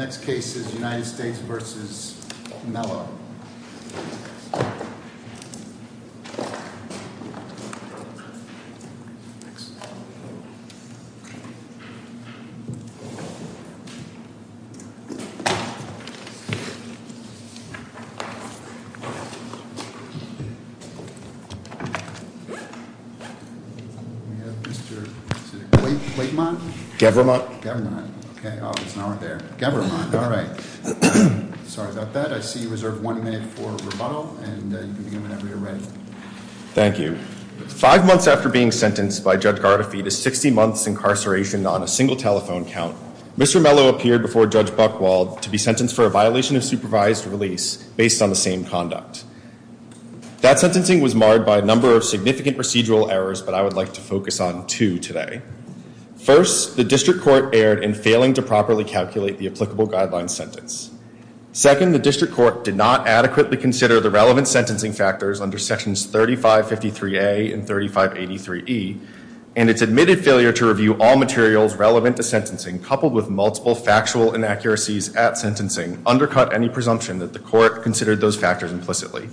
The next case is United States versus Mellon. We have Mr., is it Claymont? Gevermont. Gevermont, okay, oh, it's not right there. Gevermont, all right. Sorry about that. I see you reserve one minute for rebuttal and you can begin whenever you're ready. Thank you. Five months after being sentenced by Judge Gardafy to 60 months incarceration on a single telephone count, Mr. Mello appeared before Judge Buchwald to be sentenced for a violation of supervised release based on the same conduct. That sentencing was marred by a number of significant procedural errors, but I would like to focus on two today. First, the district court erred in failing to properly calculate the applicable guidelines sentence. Second, the district court did not adequately consider the relevant sentencing factors under sections 3553A and 3583E, and its admitted failure to review all materials relevant to sentencing, coupled with multiple factual inaccuracies at sentencing, undercut any presumption that the court considered those factors implicitly.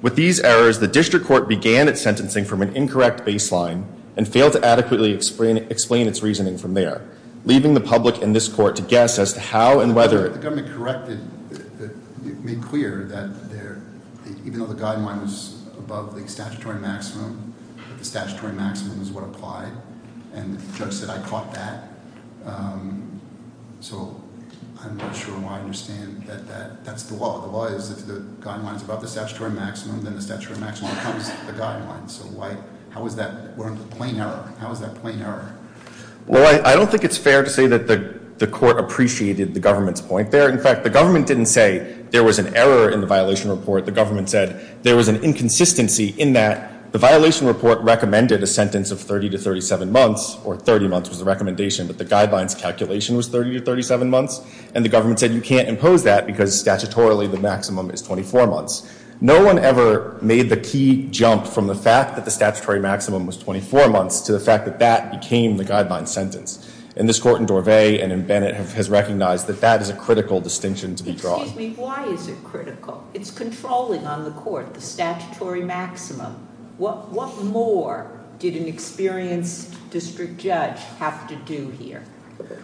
With these errors, the district court began its sentencing from an incorrect baseline and failed to adequately explain its reasoning from there, leaving the public and this court to guess as to how and whether- The government corrected, made clear that even though the guideline was above the statutory maximum, the statutory maximum is what applied, and the judge said, I caught that. So I'm not sure why I understand that that's the law. then the statutory maximum becomes the guideline. So how is that a plain error? How is that a plain error? Well, I don't think it's fair to say that the court appreciated the government's point there. In fact, the government didn't say there was an error in the violation report. The government said there was an inconsistency in that the violation report recommended a sentence of 30 to 37 months, or 30 months was the recommendation, but the guidelines calculation was 30 to 37 months, and the government said you can't impose that because statutorily the maximum is 24 months. No one ever made the key jump from the fact that the statutory maximum was 24 months to the fact that that became the guideline sentence, and this court in Dorvay and in Bennett has recognized that that is a critical distinction to be drawn. Excuse me, why is it critical? It's controlling on the court, the statutory maximum. What more did an experienced district judge have to do here?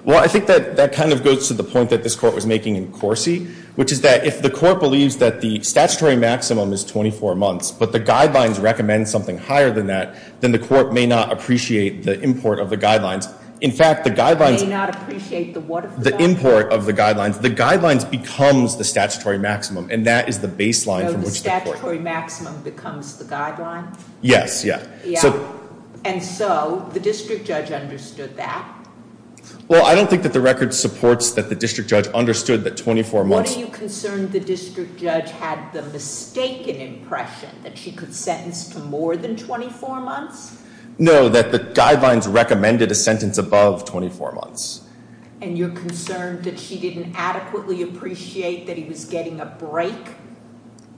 Well, I think that that kind of goes to the point that this court was making in Corsi, which is that if the court believes that the statutory maximum is 24 months, but the guidelines recommend something higher than that, then the court may not appreciate the import of the guidelines. In fact, the guidelines. May not appreciate the what of the guidelines? The import of the guidelines. The guidelines becomes the statutory maximum, and that is the baseline from which the court. So the statutory maximum becomes the guideline? Yes, yeah. Yeah, and so the district judge understood that? Well, I don't think that the record supports that the district judge understood that 24 months. What are you concerned the district judge had the mistaken impression that she could sentence to more than 24 months? No, that the guidelines recommended a sentence above 24 months. And you're concerned that she didn't adequately appreciate that he was getting a break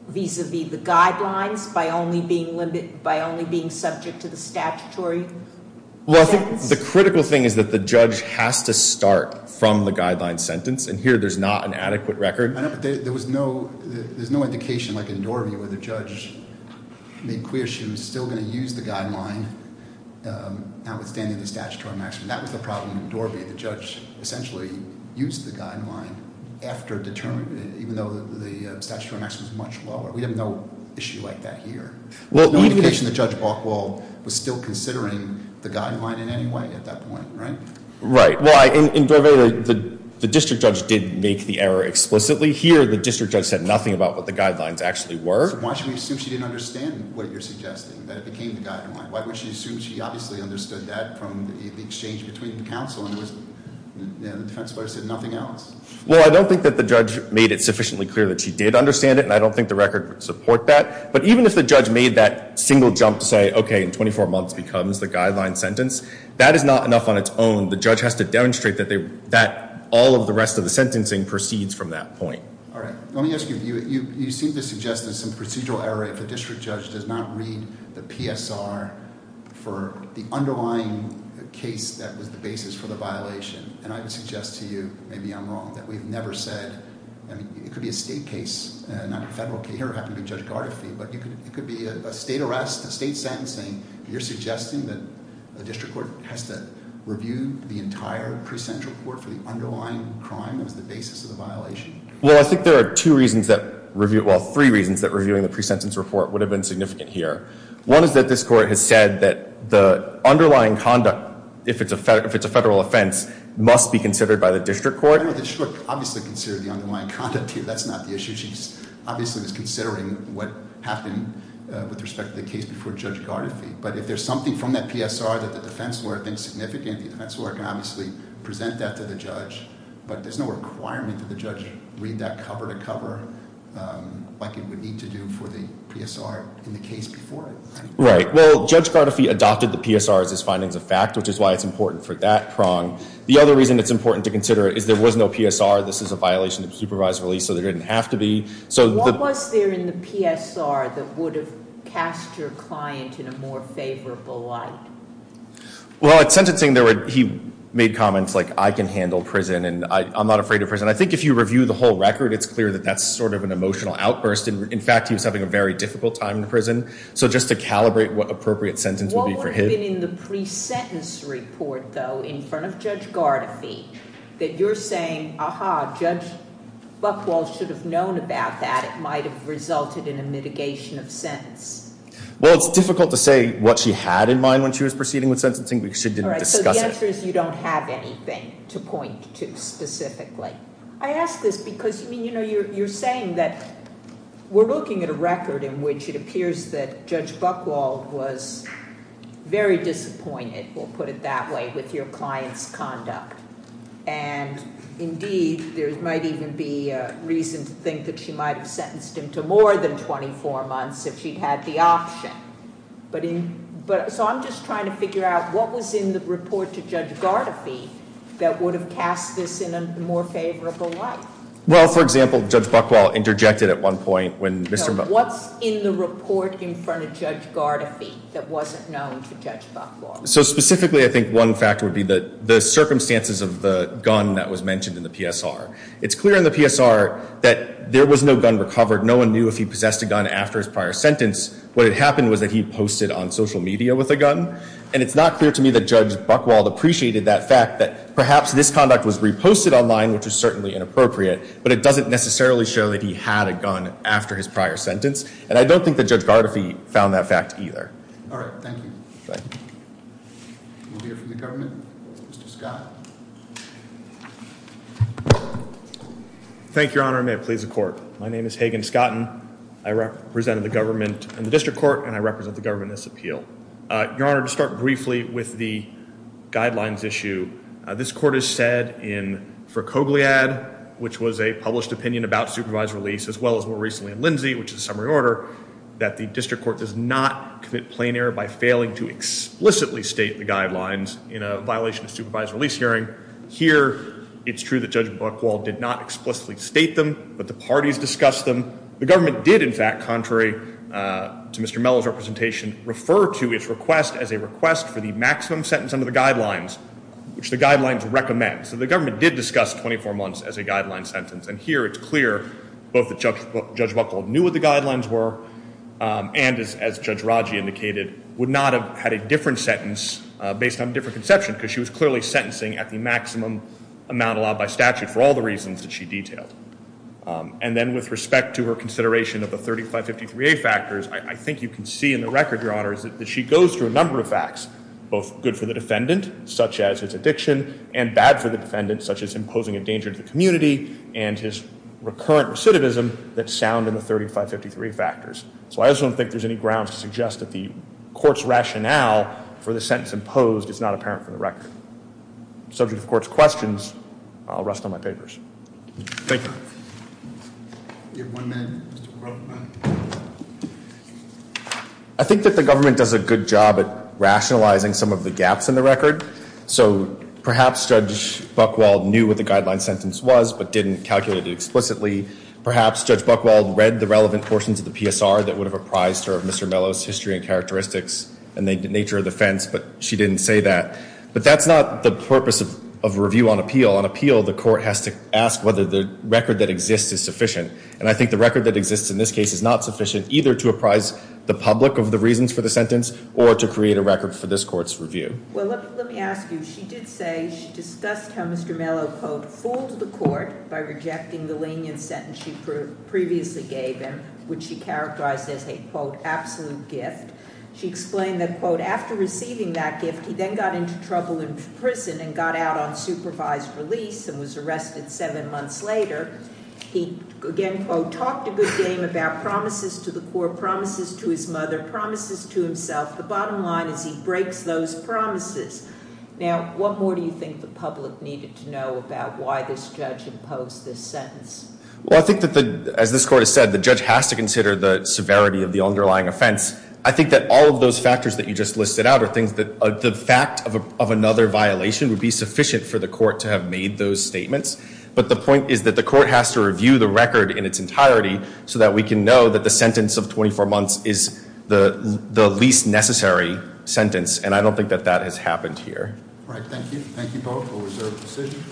vis-a-vis the guidelines by only being subject to the statutory sentence? The critical thing is that the judge has to start from the guideline sentence, and here there's not an adequate record. I know, but there was no indication, like in Dorvey, where the judge made clear she was still gonna use the guideline, notwithstanding the statutory maximum. That was the problem in Dorvey. The judge essentially used the guideline after determining, even though the statutory maximum was much lower. We have no issue like that here. Well, even. No indication that Judge Buchwald was still considering the guideline in any way at that point, right? Right. Well, in Dorvey, the district judge did make the error explicitly. Here, the district judge said nothing about what the guidelines actually were. Why should we assume she didn't understand what you're suggesting, that it became the guideline? Why would she assume she obviously understood that from the exchange between the counsel and the defense lawyer said nothing else? Well, I don't think that the judge made it sufficiently clear that she did understand it, and I don't think the record would support that. But even if the judge made that single jump to say, okay, in 24 months becomes the guideline sentence, that is not enough on its own. The judge has to demonstrate that all of the rest of the sentencing proceeds from that point. All right. Let me ask you, you seem to suggest there's some procedural error if the district judge does not read the PSR for the underlying case that was the basis for the violation. And I would suggest to you, maybe I'm wrong, that we've never said, I mean, it could be a state case, not a federal case. Here, it happened to be Judge Gardafy, but it could be a state arrest, a state sentencing. You're suggesting that the district court has to review the entire pre-sentence report for the underlying crime that was the basis of the violation? Well, I think there are two reasons that review, well, three reasons that reviewing the pre-sentence report would have been significant here. One is that this court has said that the underlying conduct, if it's a federal offense, must be considered by the district court. No, the district obviously considered the underlying conduct here, that's not the issue. She obviously was considering what happened with respect to the case before Judge Gardafy. But if there's something from that PSR that the defense lawyer thinks significant, the defense lawyer can obviously present that to the judge. But there's no requirement for the judge to read that cover to cover like it would need to do for the PSR in the case before it. Right, well, Judge Gardafy adopted the PSR as his findings of fact, which is why it's important for that prong. The other reason it's important to consider is there was no PSR, this is a violation of supervised release, so there didn't have to be. So the- What was there in the PSR that would have cast your client in a more favorable light? Well, at sentencing, he made comments like, I can handle prison, and I'm not afraid of prison. I think if you review the whole record, it's clear that that's sort of an emotional outburst. In fact, he was having a very difficult time in prison. So just to calibrate what appropriate sentence would be for him- What would have been in the pre-sentence report, though, in front of Judge Gardafy, that you're saying, aha, Judge Buchwald should have known about that, that might have resulted in a mitigation of sentence? Well, it's difficult to say what she had in mind when she was proceeding with sentencing, because she didn't discuss it. All right, so the answer is you don't have anything to point to specifically. I ask this because, I mean, you're saying that we're looking at a record in which it appears that Judge Buchwald was very disappointed, we'll put it that way, with your client's conduct. And indeed, there might even be a reason to think that she might have sentenced him to more than 24 months if she'd had the option. So I'm just trying to figure out what was in the report to Judge Gardafy that would have cast this in a more favorable light? Well, for example, Judge Buchwald interjected at one point when Mr.- No, what's in the report in front of Judge Gardafy that wasn't known to Judge Buchwald? So specifically, I think one factor would be the circumstances of the gun that was mentioned in the PSR. It's clear in the PSR that there was no gun recovered. No one knew if he possessed a gun after his prior sentence. What had happened was that he posted on social media with a gun. And it's not clear to me that Judge Buchwald appreciated that fact, that perhaps this conduct was reposted online, which is certainly inappropriate, but it doesn't necessarily show that he had a gun after his prior sentence. And I don't think that Judge Gardafy found that fact either. All right, thank you. Thank you. We'll hear from the government. Mr. Scott. Thank you, Your Honor. And may it please the court. My name is Hagan Scotten. I represent the government in the district court, and I represent the government in this appeal. Your Honor, to start briefly with the guidelines issue, this court has said for Cogliad, which was a published opinion about supervised release, as well as more recently in Lindsay, which is a summary order, that the district court does not commit plenary by failing to explicitly state the guidelines in a violation of supervised release hearing. Here, it's true that Judge Buchwald did not explicitly state them, but the parties discussed them. The government did, in fact, contrary to Mr. Mello's representation, refer to its request as a request for the maximum sentence under the guidelines, which the guidelines recommend. So the government did discuss 24 months as a guideline sentence. And here, it's clear both that Judge Buchwald knew what the guidelines were, and as Judge Raggi indicated, would not have had a different sentence based on a different conception, because she was clearly sentencing at the maximum amount allowed by statute for all the reasons that she detailed. And then with respect to her consideration of the 3553A factors, I think you can see in the record, Your Honor, that she goes through a number of facts, both good for the defendant, such as his addiction, and bad for the defendant, such as imposing a danger to the community, and his recurrent recidivism that sound in the 3553A factors. So I just don't think there's any grounds to suggest that the court's rationale for the sentence imposed is not apparent from the record. Subject of court's questions, I'll rest on my papers. Thank you. I think that the government does a good job at rationalizing some of the gaps in the record. So perhaps Judge Buchwald knew what the guideline sentence was, but didn't calculate it explicitly. Perhaps Judge Buchwald read the relevant portions of the PSR that would have apprised her of Mr. Mello's history and characteristics and the nature of the offense, but she didn't say that. But that's not the purpose of a review on appeal. On appeal, the court has to ask whether the record that exists is sufficient. And I think the record that exists in this case is not sufficient, either to apprise the public of the reasons for the sentence, or to create a record for this court's review. Well, let me ask you. She did say she discussed how Mr. Mello, quote, fooled the court by rejecting the lenient sentence she previously gave him, which she characterized as a, quote, absolute gift. She explained that, quote, after receiving that gift, he then got into trouble in prison and got out on supervised release and was arrested seven months later. He, again, quote, talked a good game about promises to the court, promises to his mother, promises to himself. The bottom line is he breaks those promises. Now, what more do you think the public needed to know about why this judge imposed this sentence? Well, I think that, as this court has said, the judge has to consider the severity of the underlying offense. I think that all of those factors that you just listed out are things that the fact of another violation would be sufficient for the court to have made those statements. But the point is that the court has to review the record in its entirety so that we can know that the sentence of 24 months is the least necessary sentence. And I don't think that that has happened here. All right, thank you. Thank you both for a reserved decision.